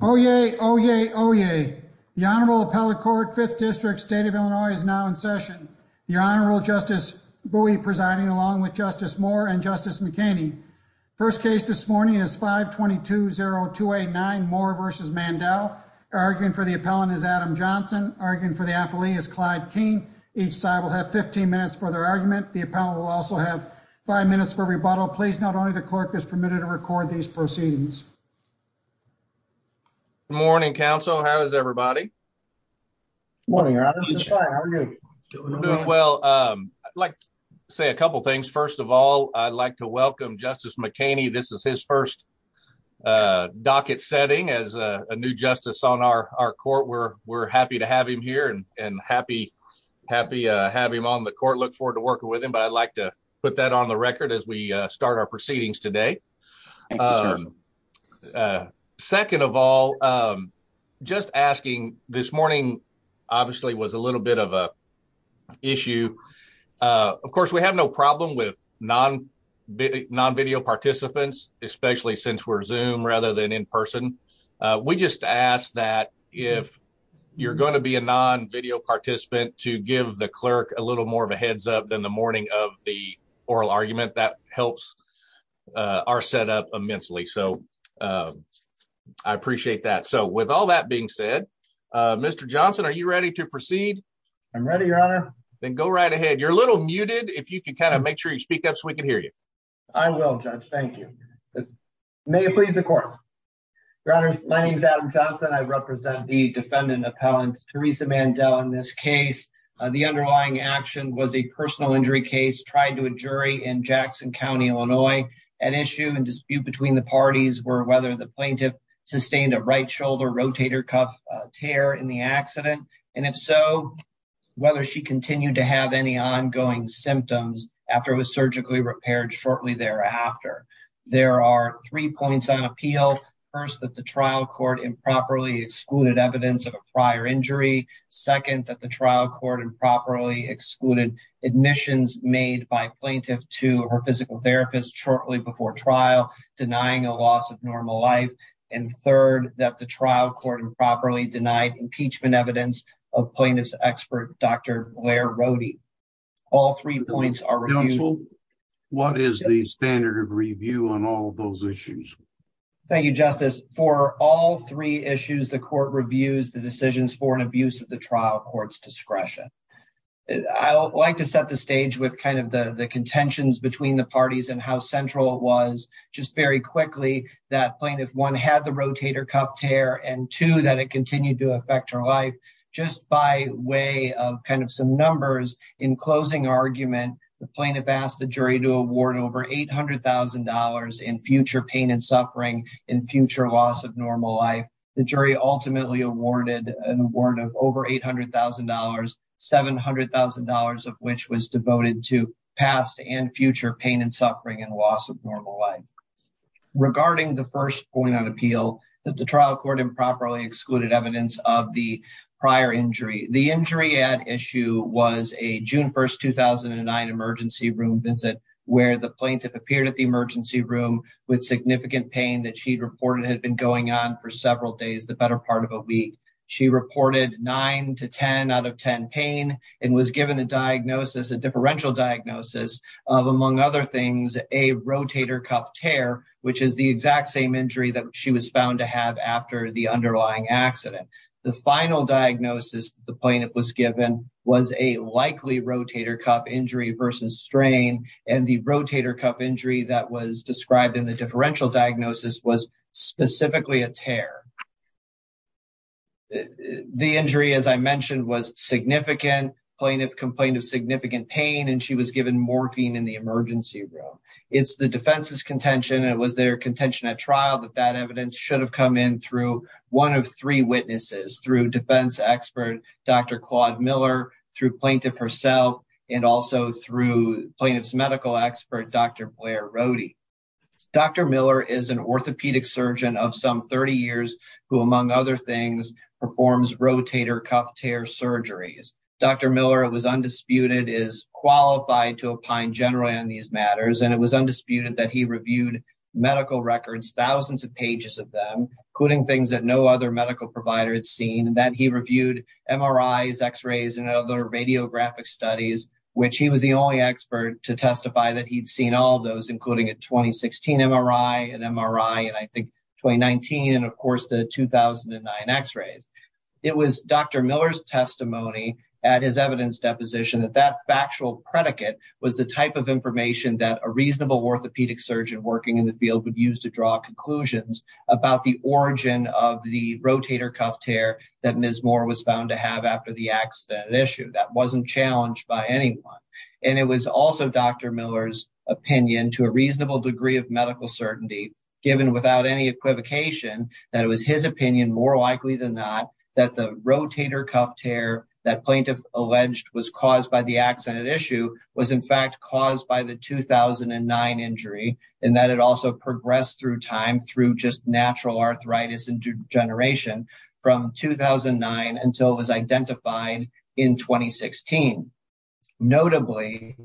Oyez, oyez, oyez. The Honorable Appellate Court, 5th District, State of Illinois, is now in session. Your Honorable Justice Bowie presiding along with Justice Moore and Justice McKinney. First case this morning is 522-0289, Moore v. Mandell. Arguing for the appellant is Adam Johnson. Arguing for the appellee is Clyde King. Each side will have 15 minutes for their argument. The appellant will also have five minutes for rebuttal. Please note only the clerk is permitted to record these proceedings. Good morning, counsel. How is everybody? Morning, Your Honor. How are you? Doing well. I'd like to say a couple things. First of all, I'd like to welcome Justice McKinney. This is his first docket setting as a new justice on our court. We're happy to have him here and happy to have him on the court. Look forward to working with him. I'd like to put that on the record as we start our proceedings today. Second of all, just asking this morning obviously was a little bit of an issue. Of course, we have no problem with non-video participants, especially since we're Zoom rather than in person. We just ask that if you're going to be a non-video participant to give the clerk a little heads up in the morning of the oral argument. That helps our setup immensely. I appreciate that. With all that being said, Mr. Johnson, are you ready to proceed? I'm ready, Your Honor. Go right ahead. You're a little muted. If you could make sure you speak up so we can hear you. I will, Judge. Thank you. May it please the court. Your Honor, my name is Adam Johnson. I represent the defendant appellant, Teresa Mandel, in this case. The underlying action was a personal injury case tried to a jury in Jackson County, Illinois. An issue and dispute between the parties were whether the plaintiff sustained a right shoulder rotator cuff tear in the accident. If so, whether she continued to have any ongoing symptoms after it was surgically repaired shortly thereafter. There are three points on appeal. First, that the trial court improperly excluded evidence of a prior injury. Second, that the trial court improperly excluded admissions made by plaintiff to her physical therapist shortly before trial, denying a loss of normal life. And third, that the trial court improperly denied impeachment evidence of plaintiff's expert, Dr. Blair Rohde. All three points are reviewed. Counsel, what is the standard of review on all those issues? Thank you, Justice. For all three issues, the court reviews the decisions for an abuse of the trial court's discretion. I like to set the stage with kind of the the contentions between the parties and how central it was. Just very quickly, that plaintiff, one, had the rotator cuff tear, and two, that it plaintiff asked the jury to award over $800,000 in future pain and suffering in future loss of normal life. The jury ultimately awarded an award of over $800,000, $700,000 of which was devoted to past and future pain and suffering and loss of normal life. Regarding the first point on appeal, that the trial court improperly excluded evidence of the prior injury. The injury at issue was a emergency room visit where the plaintiff appeared at the emergency room with significant pain that she reported had been going on for several days, the better part of a week. She reported 9 to 10 out of 10 pain and was given a diagnosis, a differential diagnosis of, among other things, a rotator cuff tear, which is the exact same injury that she was found to have after the underlying accident. The final diagnosis the plaintiff was given was a likely rotator cuff injury versus strain, and the rotator cuff injury that was described in the differential diagnosis was specifically a tear. The injury, as I mentioned, was significant. Plaintiff complained of significant pain, and she was given morphine in the emergency room. It's the defense's contention, and it was their contention at trial, that that evidence should have come in through one of three witnesses, through defense expert Dr. Claude Miller, through plaintiff herself, and also through plaintiff's medical expert Dr. Blair Rohde. Dr. Miller is an orthopedic surgeon of some 30 years who, among other things, performs rotator cuff tear surgeries. Dr. Miller, it was undisputed, is qualified to opine generally on these matters, and it was undisputed that he reviewed medical records, thousands of pages of them, including things that no other medical provider had seen, and that he reviewed MRIs, X-rays, and other radiographic studies, which he was the only expert to testify that he'd seen all those, including a 2016 MRI, an MRI in, I think, 2019, and of course the 2009 X-rays. It was Dr. Miller's testimony at his evidence deposition that that factual predicate was the type of information that a reasonable orthopedic surgeon working in the field would use draw conclusions about the origin of the rotator cuff tear that Ms. Moore was found to have after the accident issue. That wasn't challenged by anyone, and it was also Dr. Miller's opinion, to a reasonable degree of medical certainty, given without any equivocation, that it was his opinion, more likely than not, that the rotator cuff tear that plaintiff alleged was caused by the accident issue was, in fact, caused by the 2009 injury, and that it also progressed through time through just natural arthritis and degeneration from 2009 until it was identified in 2016. Notably,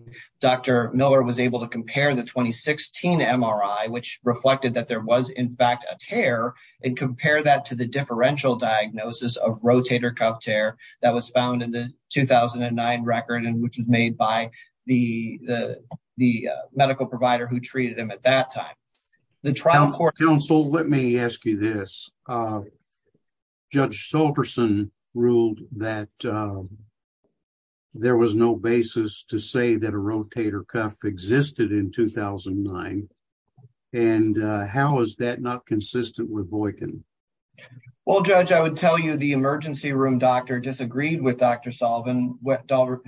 Dr. Miller was able to compare the 2016 MRI, which reflected that there was, in fact, a tear, and compare that to the differential diagnosis of rotator cuff tear that was found in the 2009 record, and which was made by the medical provider who treated him at that time. Counsel, let me ask you this. Judge Sulverson ruled that there was no basis to say that a rotator cuff existed in 2009, and how is that not consistent with Boykin? Well, Judge, I would tell you the emergency room doctor disagreed with Dr. Sullivan when the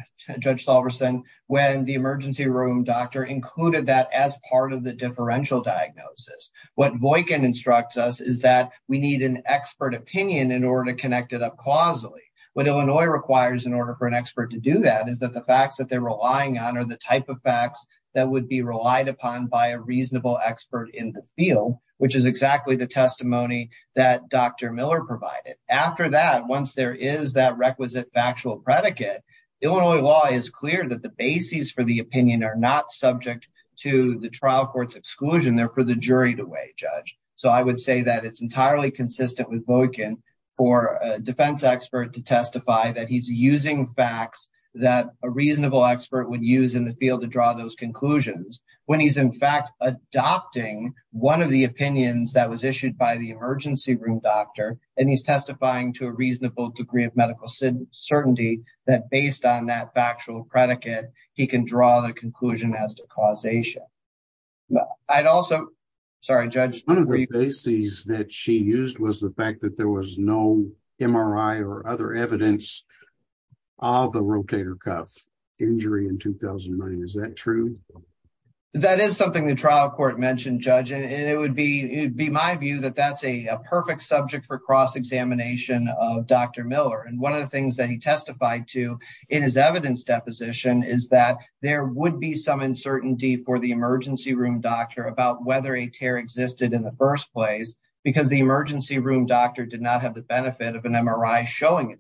emergency room doctor included that as part of the differential diagnosis. What Boykin instructs us is that we need an expert opinion in order to connect it up causally. What Illinois requires in order for an expert to do that is that the facts that they're relying on are the type of facts that would be relied upon by a reasonable expert in the field, which is exactly the testimony that Dr. Miller provided. After that, once there is that requisite factual predicate, Illinois law is clear that the bases for the opinion are not subject to the trial court's exclusion. They're for the jury to weigh, Judge. So I would say that it's entirely consistent with Boykin for a defense expert to testify that he's using facts that a reasonable expert would use in the field to draw those conclusions, when he's, in fact, adopting one of the opinions that was issued by the emergency room doctor, and he's testifying to a reasonable degree of medical certainty that, based on that factual predicate, he can draw the conclusion as to causation. I'd also... Sorry, Judge. One of the bases that she used was the fact that there was no MRI or other evidence of a rotator cuff injury in 2009. Is that true? That is something the trial court mentioned, Judge, and it would be my view that that's a he testified to in his evidence deposition, is that there would be some uncertainty for the emergency room doctor about whether a tear existed in the first place, because the emergency room doctor did not have the benefit of an MRI showing a tear.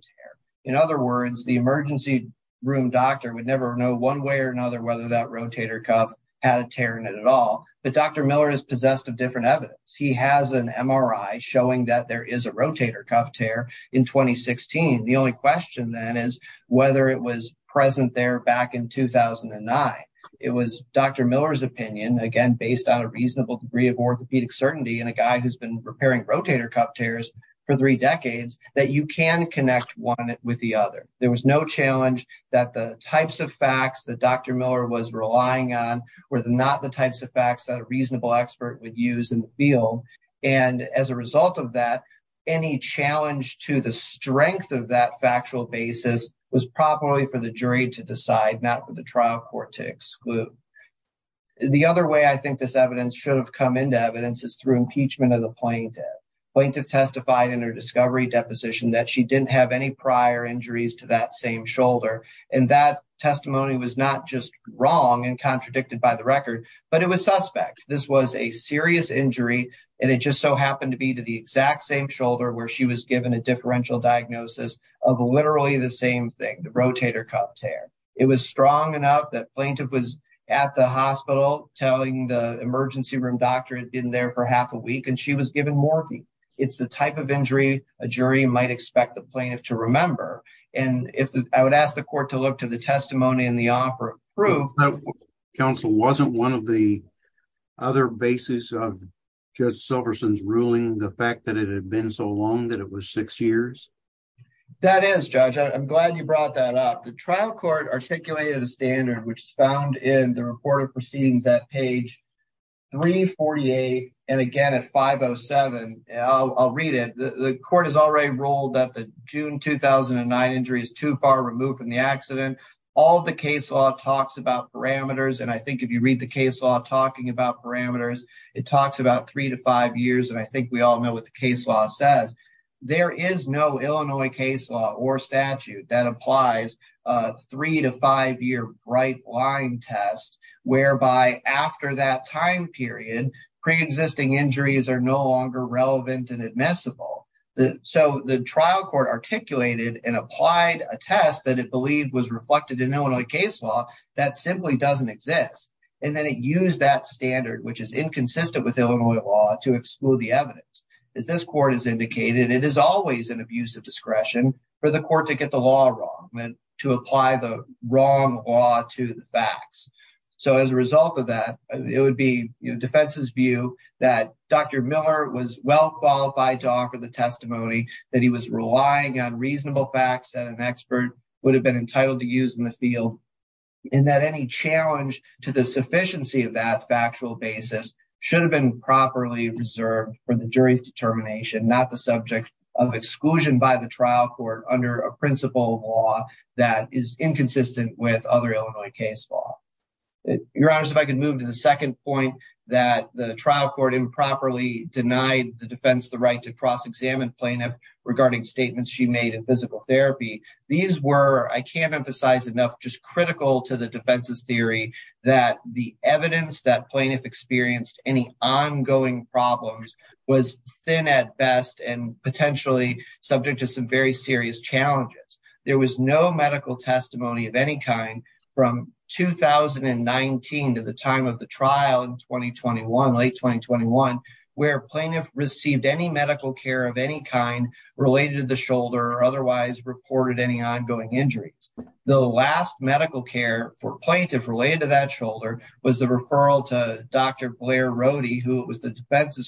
In other words, the emergency room doctor would never know one way or another whether that rotator cuff had a tear in it at all. But Dr. Miller is possessed of different evidence. He has an MRI showing that there is a rotator cuff tear in 2016. The only question then is whether it was present there back in 2009. It was Dr. Miller's opinion, again, based on a reasonable degree of orthopedic certainty and a guy who's been repairing rotator cuff tears for three decades, that you can connect one with the other. There was no challenge that the types of facts that Dr. Miller was relying on were not the types of facts that a reasonable expert would use in the field. And as a result of that, any challenge to the strength of that factual basis was probably for the jury to decide, not for the trial court to exclude. The other way I think this evidence should have come into evidence is through impeachment of the plaintiff. Plaintiff testified in her discovery deposition that she didn't have any prior injuries to that same shoulder. And that testimony was not just the record, but it was suspect. This was a serious injury and it just so happened to be to the exact same shoulder where she was given a differential diagnosis of literally the same thing, the rotator cuff tear. It was strong enough that plaintiff was at the hospital telling the emergency room doctor had been there for half a week and she was given morphine. It's the type of injury a jury might expect the plaintiff to remember. And I would ask the court to look to the testimony in the offer of proof. But counsel, wasn't one of the other basis of Judge Silverson's ruling the fact that it had been so long that it was six years? That is, Judge. I'm glad you brought that up. The trial court articulated a standard which is found in the report of proceedings at page 348 and again at 507. I'll read it. The court has already ruled that the June 2009 injury is far removed from the accident. All the case law talks about parameters. And I think if you read the case law talking about parameters, it talks about three to five years. And I think we all know what the case law says. There is no Illinois case law or statute that applies a three to five year bright line test whereby after that time period, pre-existing injuries are no longer relevant and admissible. So the trial court articulated and applied a test that it believed was reflected in Illinois case law that simply doesn't exist. And then it used that standard, which is inconsistent with Illinois law, to exclude the evidence. As this court has indicated, it is always an abuse of discretion for the court to get the law wrong, to apply the wrong law to facts. So as a result of that, it would be defense's view that Dr. Miller was well qualified to offer the testimony that he was relying on reasonable facts that an expert would have been entitled to use in the field. And that any challenge to the sufficiency of that factual basis should have been properly reserved for the jury's determination, not the subject of exclusion by the law. Your Honor, if I could move to the second point that the trial court improperly denied the defense the right to cross-examine plaintiff regarding statements she made in physical therapy. These were, I can't emphasize enough, just critical to the defense's theory that the evidence that plaintiff experienced any ongoing problems was thin at best and potentially subject to some very serious challenges. There was no medical testimony of any kind from 2019 to the time of the trial in 2021, late 2021, where plaintiff received any medical care of any kind related to the shoulder or otherwise reported any ongoing injuries. The last medical care for plaintiff related to that shoulder was the referral to Dr. Blair Rohde, who it was the defense's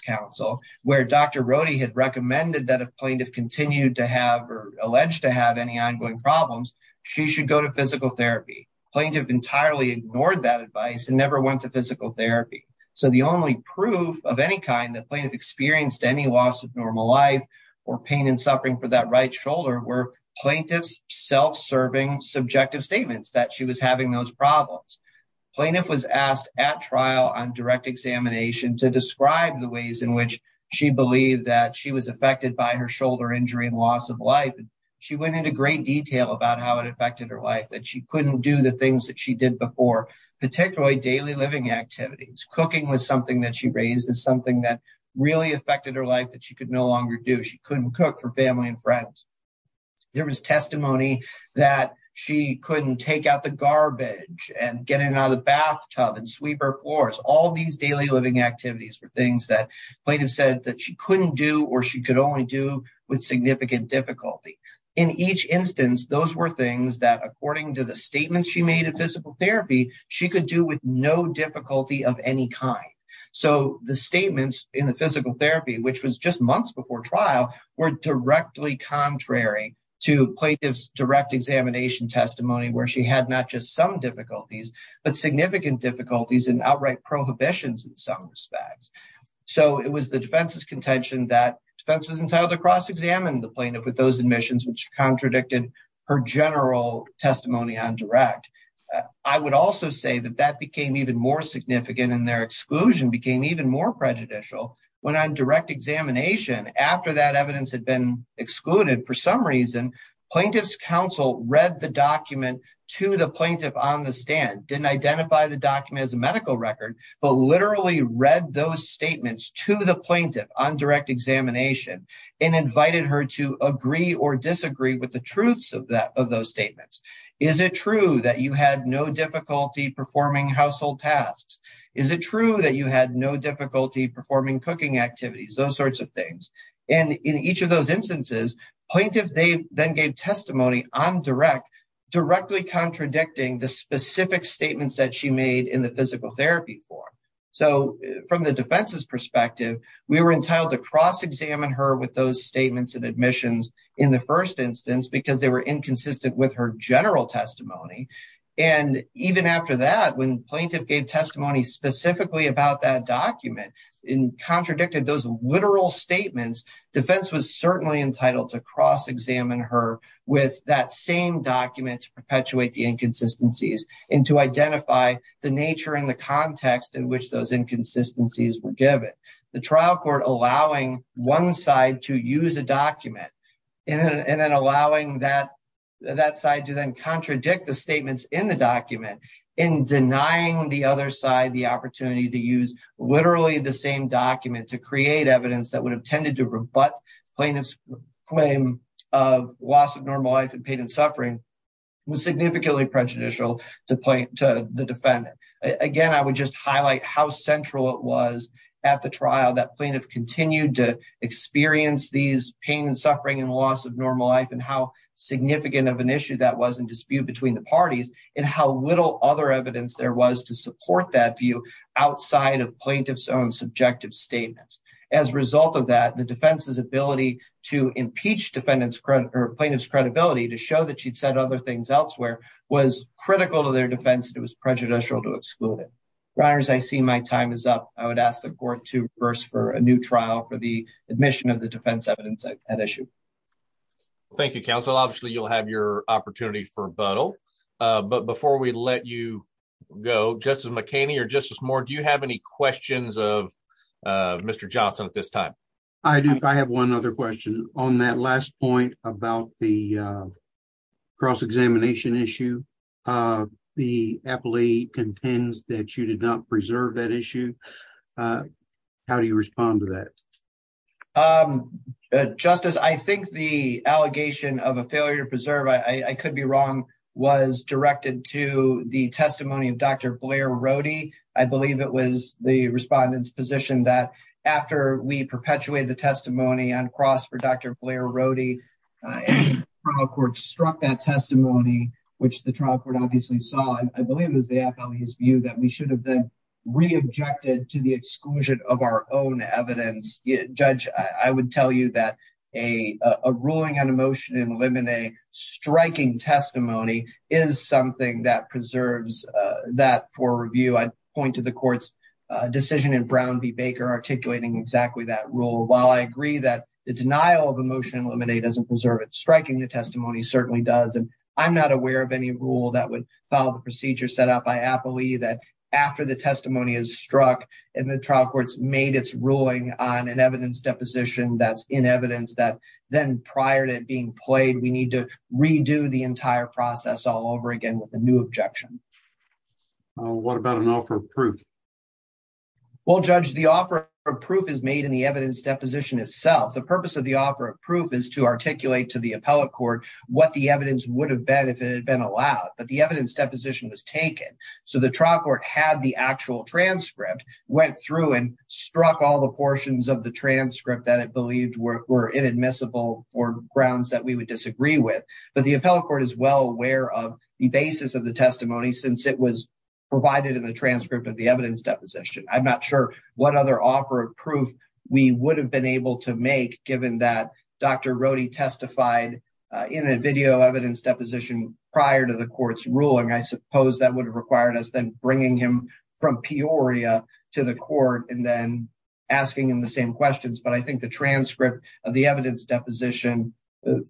counsel, where Dr. Rohde had recommended that if plaintiff continued to have or alleged to have any ongoing problems, she should go to physical therapy. Plaintiff entirely ignored that advice and never went to physical therapy. So the only proof of any kind that plaintiff experienced any loss of normal life or pain and suffering for that right shoulder were plaintiff's self-serving subjective statements that she was having those problems. Plaintiff was asked at trial on direct examination to describe the ways in which she believed that she was affected by her shoulder injury and loss of life. She went into great detail about how it affected her life, that she couldn't do the things that she did before, particularly daily living activities. Cooking was something that she raised as something that really affected her life that she could no longer do. She couldn't cook for family and friends. There was testimony that she couldn't take out the garbage and get it out of the bathtub and sweep her floors. All these daily living activities were things that plaintiff said that she couldn't do or she could only do with significant difficulty. In each instance, those were things that according to the statements she made at physical therapy, she could do with no difficulty of any kind. So the statements in the physical therapy, which was just months before trial, were directly contrary to plaintiff's direct examination testimony where she had not just some difficulties, but significant difficulties and outright prohibitions in some respects. So it was the defense's contention that defense was entitled to cross-examine the plaintiff with those admissions, which contradicted her general testimony on direct. I would also say that that became even more significant and their exclusion became even more prejudicial when on direct examination after that evidence had been excluded. For some reason, plaintiff's counsel read the document to the plaintiff on the stand, didn't identify the document as a medical record, but literally read those statements to the plaintiff on direct examination and invited her to agree or disagree with the truths of those statements. Is it true that you had no difficulty performing household tasks? Is it true that you had no difficulty performing cooking activities? Those sorts of things. And in each of those instances, plaintiff, they then gave testimony on direct, directly contradicting the specific statements that she made in the physical therapy form. So from the defense's perspective, we were entitled to cross-examine her with those statements and admissions in the first instance, because they were inconsistent with her general testimony. And even after that, when plaintiff gave testimony specifically about that document and contradicted those literal statements, defense was certainly entitled to cross-examine her with that same document to perpetuate the inconsistencies and to identify the nature and the context in which those inconsistencies were given. The trial court allowing one side to use a document and then allowing that side to contradict the statements in the document in denying the other side the opportunity to use literally the same document to create evidence that would have tended to rebut plaintiff's claim of loss of normal life and pain and suffering was significantly prejudicial to the defendant. Again, I would just highlight how central it was at the trial that plaintiff continued to experience these pain and suffering and loss of normal life and how significant of an issue that was in dispute between the parties and how little other evidence there was to support that view outside of plaintiff's own subjective statements. As a result of that, the defense's ability to impeach plaintiff's credibility to show that she'd said other things elsewhere was critical to their defense and it was prejudicial to exclude it. Your honors, I see my time is up. I would ask the court to reverse for a new trial for the defense evidence at issue. Thank you, counsel. Obviously, you'll have your opportunity for rebuttal, but before we let you go, Justice McHaney or Justice Moore, do you have any questions of Mr. Johnson at this time? I do. I have one other question. On that last point about the cross-examination issue, the appellee contends that you did not preserve that issue. How do you respond to that? Justice, I think the allegation of a failure to preserve, I could be wrong, was directed to the testimony of Dr. Blair Rohde. I believe it was the respondent's position that after we perpetuated the testimony on cross for Dr. Blair Rohde, the trial court struck that testimony, which the trial court obviously saw. I believe it was the appellee's view that we should reobject it to the exclusion of our own evidence. Judge, I would tell you that a ruling on a motion in limine striking testimony is something that preserves that for review. I'd point to the court's decision in Brown v. Baker articulating exactly that rule. While I agree that the denial of a motion in limine doesn't preserve it, striking the testimony certainly does. I'm not aware of any rule that would follow the procedure set out by appellee that after the testimony is struck and the trial court's made its ruling on an evidence deposition that's in evidence that then prior to it being played, we need to redo the entire process all over again with a new objection. What about an offer of proof? Well, Judge, the offer of proof is made in the evidence deposition itself. The purpose of the offer of proof is to articulate to the appellate court what the evidence would have been if it had been allowed. But the evidence deposition was taken. So the trial court had the actual transcript, went through and struck all the portions of the transcript that it believed were inadmissible for grounds that we would disagree with. But the appellate court is well aware of the basis of the testimony since it was provided in the transcript of the evidence deposition. I'm not sure what other offer of proof we would have been able to make given that Dr. Rohde testified in a video evidence deposition prior to the court's ruling. I suppose that would have required us then bringing him from Peoria to the court and then asking him the same questions. But I think the transcript of the evidence deposition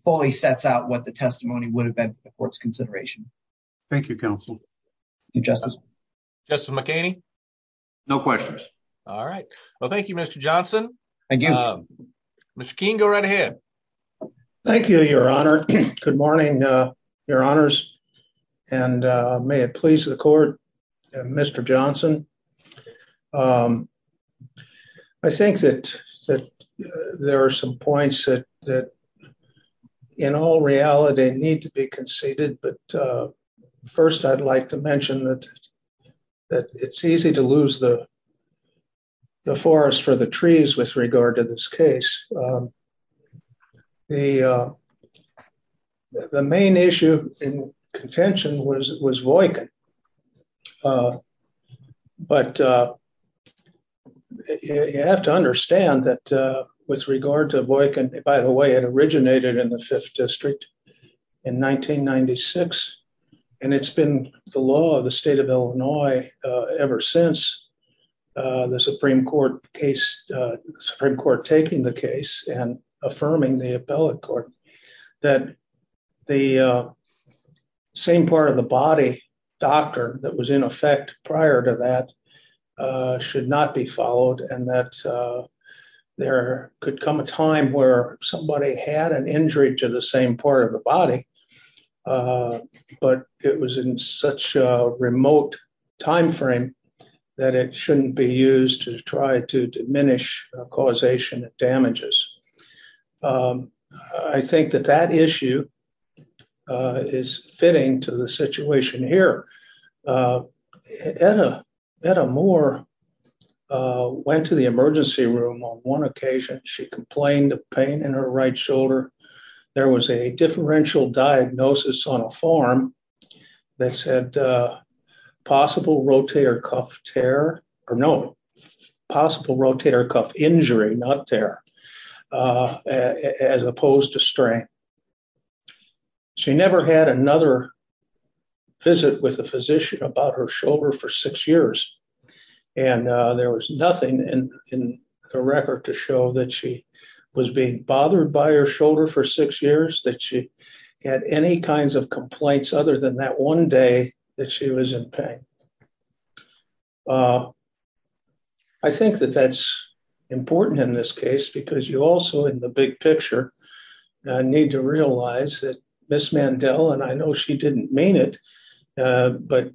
fully sets out what the testimony would have been for its consideration. Thank you, Counsel. Thank you, Justice. Justice McKinney? No questions. All right. Well, thank you, Mr. Johnson. Thank you. Mr. Keene, go right ahead. Thank you, Your Honor. Good morning, Your Honors. And may it please the court, Mr. Johnson. I think that there are some points that in all reality need to be conceded. But first, I'd like to mention that it's easy to lose the forest for the trees with regard to this case. The main issue in contention was Voightkin. But you have to understand that with regard to Voightkin, by the way, it originated in the Fifth District in 1996. And it's been the law of the state of Illinois ever since the Supreme Court Supreme Court taking the case and affirming the appellate court that the same part of the body doctor that was in effect prior to that should not be followed. And that there could come a time where somebody had an injury to the same part of the body. But it was in such a remote time frame that it shouldn't be used to try to diminish causation of damages. I think that that issue is fitting to the situation here. Etta Moore went to the emergency room on one occasion, she complained of pain in her right shoulder. There was a differential diagnosis on a farm that said possible rotator cuff tear, or no, possible rotator cuff injury, not tear, as opposed to strength. She never had another visit with a physician about her shoulder for six years. And there was nothing in the record to show that she was being bothered by her shoulder for six years that she had any kinds of complaints other than that one day that she was in pain. I think that that's important in this case, because you also in the big picture, need to realize that Ms. Mandel, and I know she didn't mean it. But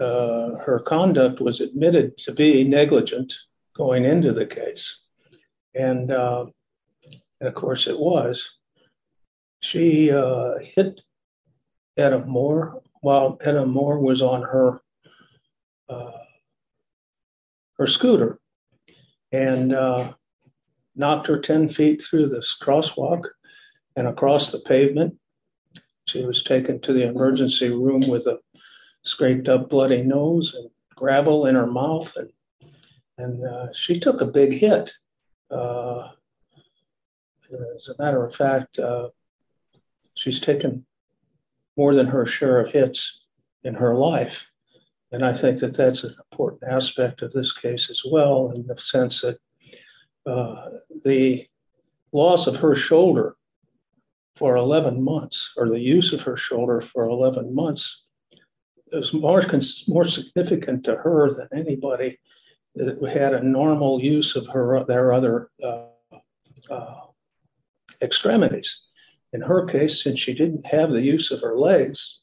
her conduct was admitted to was, she hit Etta Moore while Etta Moore was on her scooter and knocked her 10 feet through this crosswalk and across the pavement. She was taken to the emergency room with a scraped up bloody nose and gravel in her mouth. And she took a big hit. As a matter of fact, she's taken more than her share of hits in her life. And I think that that's an important aspect of this case as well, in the sense that the loss of her shoulder for 11 months, or the use of her shoulder for 11 months, is more significant to her than anybody that had a normal use of their other extremities. In her case, since she didn't have the use of her legs,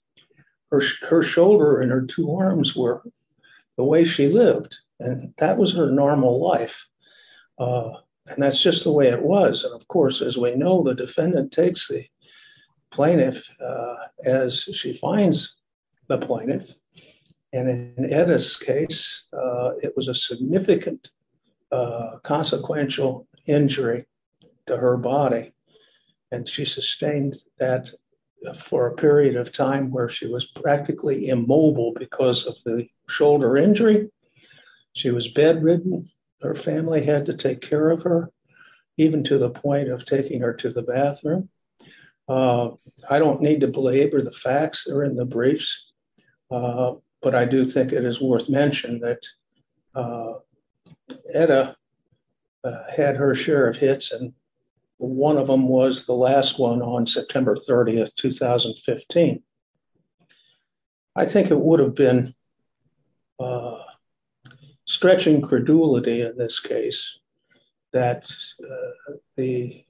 her shoulder and her two arms were the way she lived. And that was her normal life. And that's just the way it was. And of course, as we know, the defendant takes the plaintiff, as she finds the plaintiff. And in Etta's case, it was a significant consequential injury to her body. And she sustained that for a period of time where she was practically immobile because of the shoulder injury. She was bedridden, her family had to take care of her, even to the point of taking her to the bathroom. I don't need to belabor the facts that are in the briefs. But I do think it is worth mentioning that Etta had her share of hits and one of them was the last one on September 30, 2015. I think it would have been a stretching credulity in this case, that the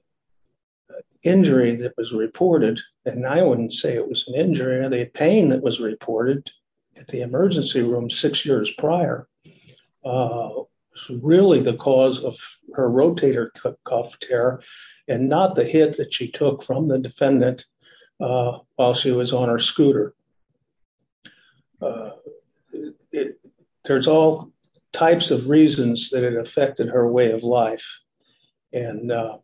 injury that was reported, and I wouldn't say it was an injury or the pain that was reported at the emergency room six years prior, really the cause of her rotator cuff tear, and not the hit that she took from the defendant while she was on her scooter. There's all types of reasons that it affected her way of life. And that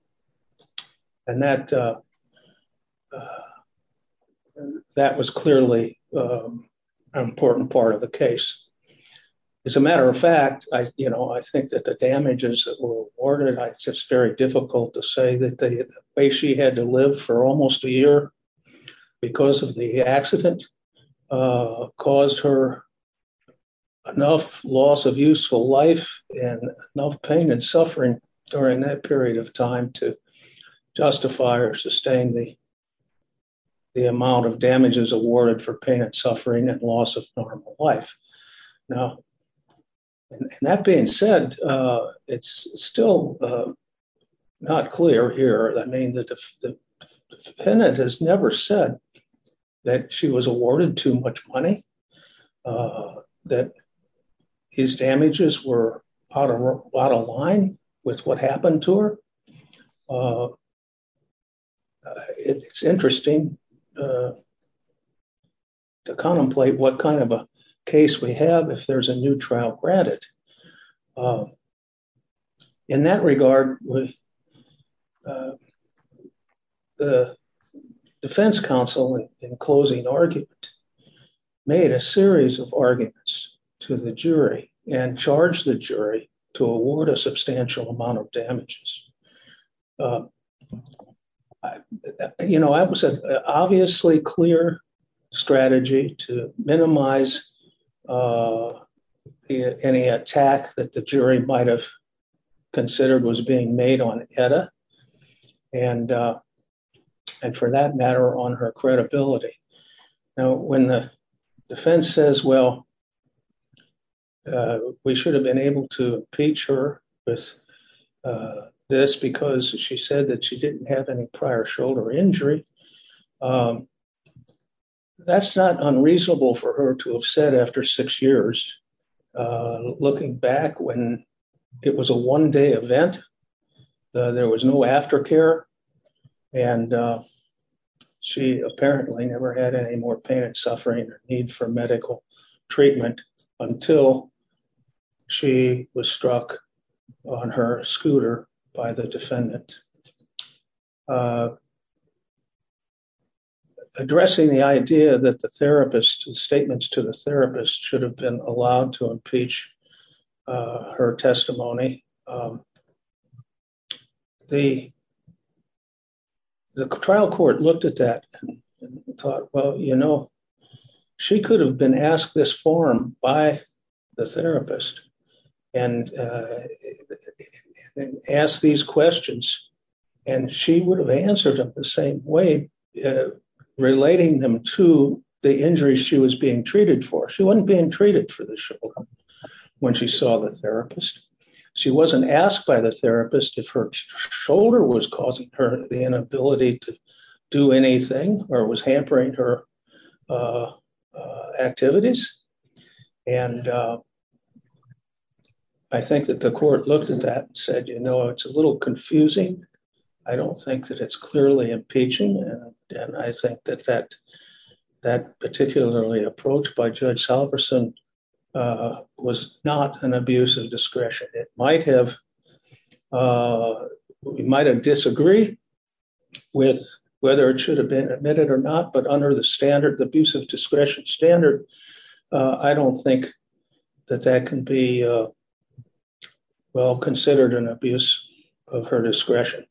was clearly an important part of the case. As a matter of fact, I think that the damages that were awarded, it's very difficult to say that the way she had to live for almost a year because of the accident caused her enough loss of useful life and enough pain and suffering during that period of time to justify or sustain the amount of damages awarded for pain and still not clear here. I mean, the defendant has never said that she was awarded too much money, that his damages were out of line with what happened to her. It's interesting to contemplate what kind of a case we have if there's a new trial granted. In that regard, the defense counsel in closing argument made a series of arguments to the jury and charged the jury to award a substantial amount of damages. You know, that was an obviously clear strategy to minimize any attack that the jury might have considered was being made on Etta and for that matter on her credibility. Now, when the defense says, well, we should have been able to impeach her with this because she said that she didn't have any prior shoulder injury, that's not unreasonable for her to have said after six years of looking back when it was a one-day event, there was no aftercare and she apparently never had any more pain and suffering or need for medical treatment until she was struck on her scooter by the defendant. Addressing the idea that the therapist, the statements to the therapist should have been allowed to impeach her testimony, the trial court looked at that and thought, well, you know, she could have been asked this form by the therapist and asked these questions and she would have answered them the same way relating them to the injuries she was being treated for. She wasn't being treated for the shoulder when she saw the therapist. She wasn't asked by the therapist if her shoulder was causing her the inability to do anything or was hampering her activities and I think that the court looked at that and said, you know, it's a little confusing. I don't think that it's clearly impeaching and I think that that particularly approach by Judge Salverson was not an abuse of discretion. It might have disagreed with whether it should have been admitted or not but under the standard, abuse of discretion standard, I don't think that that can be well considered an abuse of her discretion.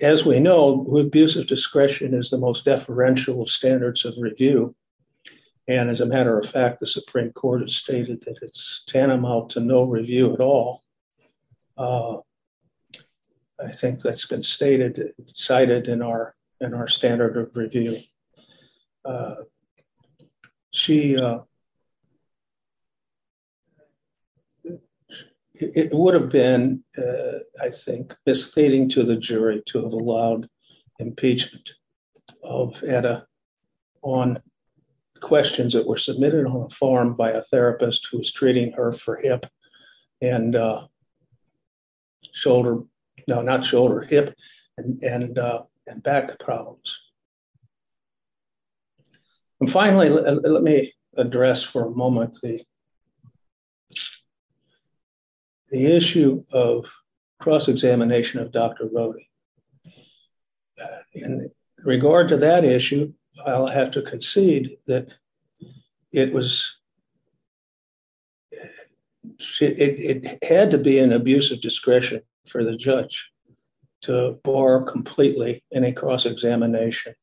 As we know, abuse of discretion is the most deferential standards of review and as a matter of fact, the Supreme Court has stated that it's tantamount to no review at all. I think that's been cited in our standard of review. It would have been, I think, misleading to the jury to have allowed impeachment of Etta on questions that were submitted on a form by a therapist who was treating her for hip and shoulder, no, not shoulder, hip and back problems. And finally, let me address for a moment the issue of cross-examination of Dr. Rode. In regard to that issue, I'll have to concede that it was, it had to be an abuse of discretion for the judge to bar completely any cross-examination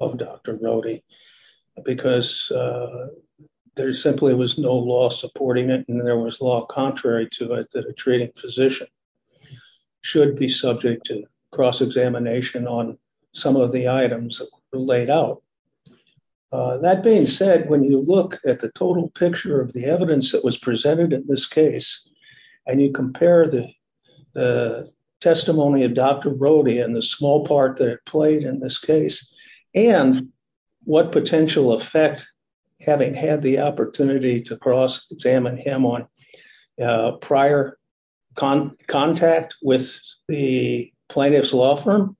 of Dr. Rode because there simply was no law supporting it and there was law contrary to it that a treating physician should be subject to cross-examination on some of the items laid out. That being said, when you look at the total picture of the evidence that was presented in this case and you compare the testimony of Dr. Rode and the small part that it played in this case and what potential effect having had the opportunity to cross-examine him on prior con, contact with the plaintiff's law firm,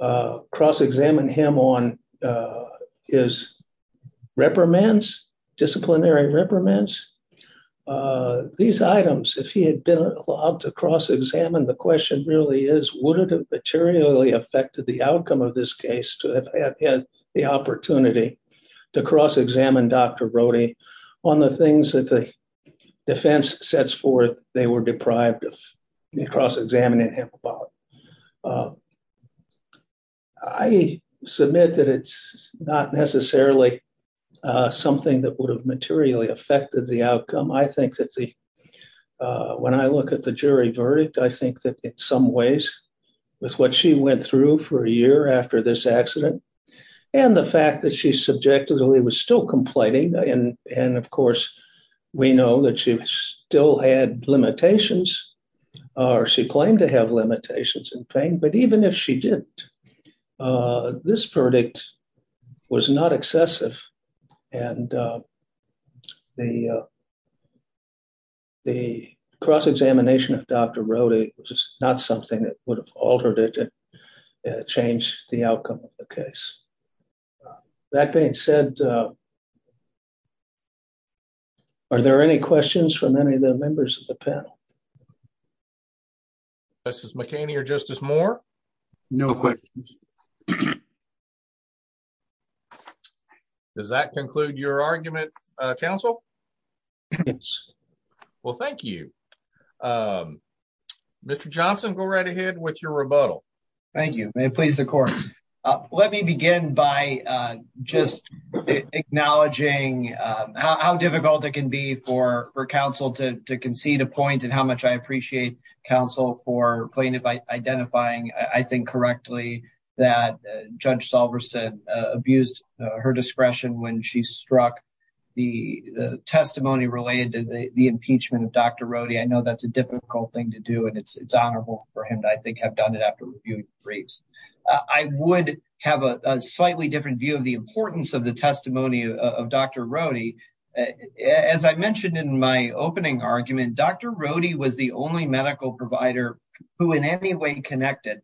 cross-examine him on his reprimands, disciplinary reprimands, these items, if he had been allowed to cross-examine, the question really is would it have materially affected the outcome of this case to have had the opportunity to cross-examine Dr. Rode on the things that the defense sets forth they were deprived of cross-examining him about. I submit that it's not necessarily something that would have materially affected the outcome. I think that the, when I look at the jury verdict, I think that in some ways with what she went through for a year after this accident and the fact that she subjectively was still complaining and of course, we know that she still had limitations or she claimed to have limitations in pain, but even if she didn't, this verdict was not excessive and the cross-examination of Dr. Rode was not something that would have altered it and changed the outcome of the case. That being said, are there any questions from any of the members of the panel? Justice McHaney or Justice Moore? No questions. Does that conclude your argument, counsel? Yes. Well, thank you. Mr. Johnson, go right ahead with your rebuttal. Thank you. May it please the court. Let me begin by just acknowledging how difficult it can be for counsel to concede a point and how much I appreciate counsel for plaintiff identifying, I think correctly, that Judge Salverson abused her discretion when she struck the testimony related to the impeachment of Dr. Rode. I know that's a difficult thing to do and it's honorable for him to, I think, have done it after reviewing briefs. I would have a slightly different view of the importance of the testimony of Dr. Rode. As I mentioned in my opening argument, Dr. Rode was the only medical provider who in any way connected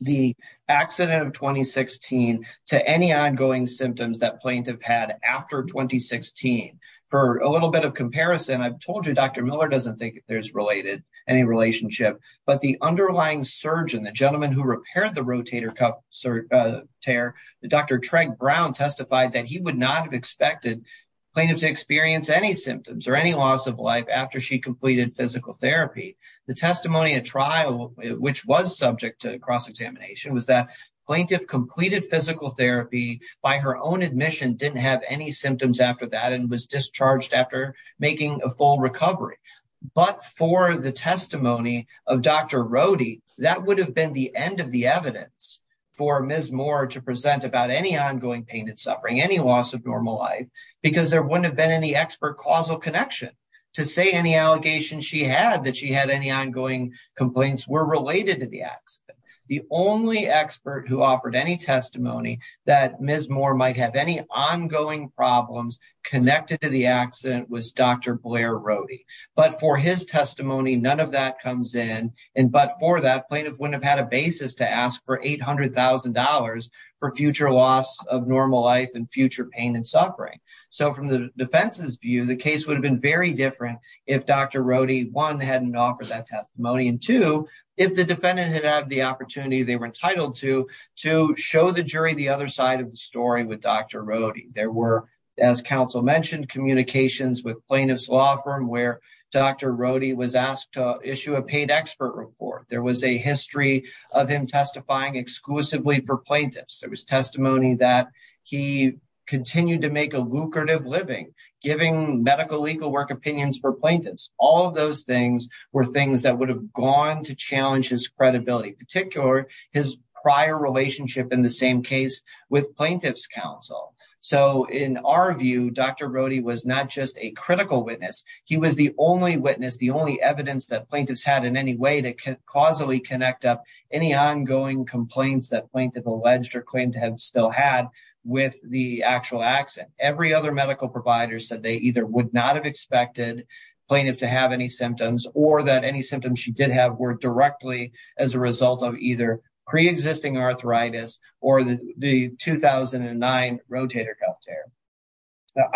the accident of 2016 to any ongoing symptoms that plaintiff had after 2016. For a little bit of comparison, I've told you Dr. Miller doesn't think there's any relationship, but the underlying surgeon, the gentleman who repaired the rotator cuff tear, Dr. Tregg Brown, testified that he would not have expected plaintiff to experience any symptoms or any loss of life after she completed physical therapy. The testimony at trial, which was subject to cross-examination, was that plaintiff completed physical therapy by her own admission, didn't have any symptoms after that, and was discharged after making a full recovery. But for the testimony of Dr. Rode, that would have been the end of the evidence for Ms. Moore to present about any ongoing pain and suffering, any loss of normal life, because there wouldn't have been any expert causal connection to say any allegations she had that she had any ongoing complaints were related to the accident. The only expert who offered any Rode. But for his testimony, none of that comes in, and but for that, plaintiff wouldn't have had a basis to ask for $800,000 for future loss of normal life and future pain and suffering. So from the defense's view, the case would have been very different if Dr. Rode, one, hadn't offered that testimony, and two, if the defendant had had the opportunity they were entitled to, to show the jury the other side of the story with Dr. Rode. There were, as counsel mentioned, communications with plaintiff's law firm where Dr. Rode was asked to issue a paid expert report. There was a history of him testifying exclusively for plaintiffs. There was testimony that he continued to make a lucrative living giving medical legal work opinions for plaintiffs. All of those things were things that would have gone to challenge his credibility, particularly his prior relationship in the same case with plaintiff's counsel. So in our view, Dr. Rode was not just a critical witness. He was the only witness, the only evidence that plaintiffs had in any way to causally connect up any ongoing complaints that plaintiff alleged or claimed to have still had with the actual accident. Every other medical provider said they either would not have expected plaintiff to have any symptoms or that any symptoms she did have were directly as a result of either pre-existing arthritis or the 2009 rotator cuff tear.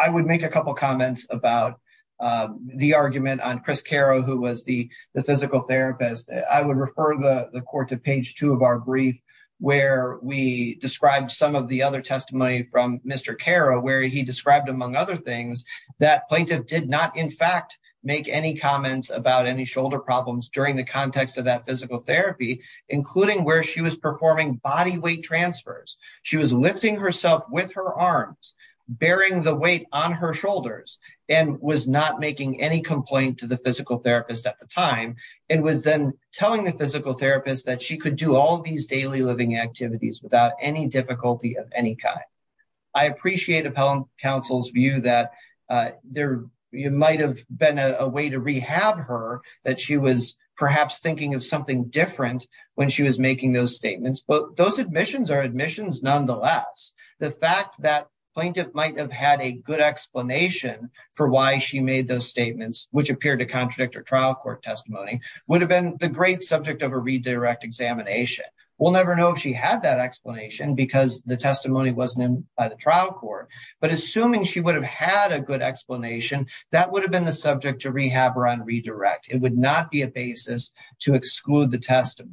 I would make a couple of comments about the argument on Chris Caro, who was the physical therapist. I would refer the court to page two of our brief, where we described some of the other testimony from Mr. Caro, where he described, among other things, that plaintiff did not in fact make any comments about any shoulder problems during the context of that physical therapy, including where she was performing body weight transfers. She was lifting herself with her arms, bearing the weight on her shoulders, and was not making any complaint to the physical therapist at the time, and was then telling the physical therapist that she could do all these daily living activities without any difficulty of any kind. I appreciate appellant counsel's view that there might have been a way to rehab her, that she was perhaps thinking of something different when she was making those statements, but those admissions are admissions nonetheless. The fact that plaintiff might have had a good explanation for why she made those statements, which appeared to contradict her trial court testimony, would have been the great subject of a redirect examination. We'll never know if she had that explanation because the testimony wasn't in by the trial court, but assuming she would have a good explanation, that would have been the subject to rehab or redirect. It would not be a basis to exclude the testimony.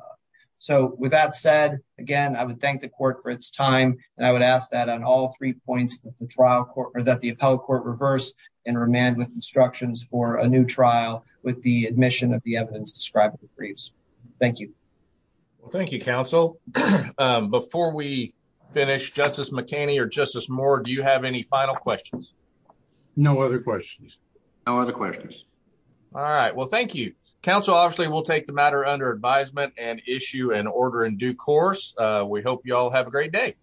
With that said, again, I would thank the court for its time, and I would ask that on all three points that the appellate court reverse and remand with instructions for a new trial with the admission of the evidence described in the briefs. Thank you. Well, thank you, counsel. Before we finish, Justice McCanney or Justice Moore, do you have any final questions? No other questions. No other questions. All right, well, thank you. Counsel, obviously, will take the matter under advisement and issue an order in due course. We hope you all have a great day.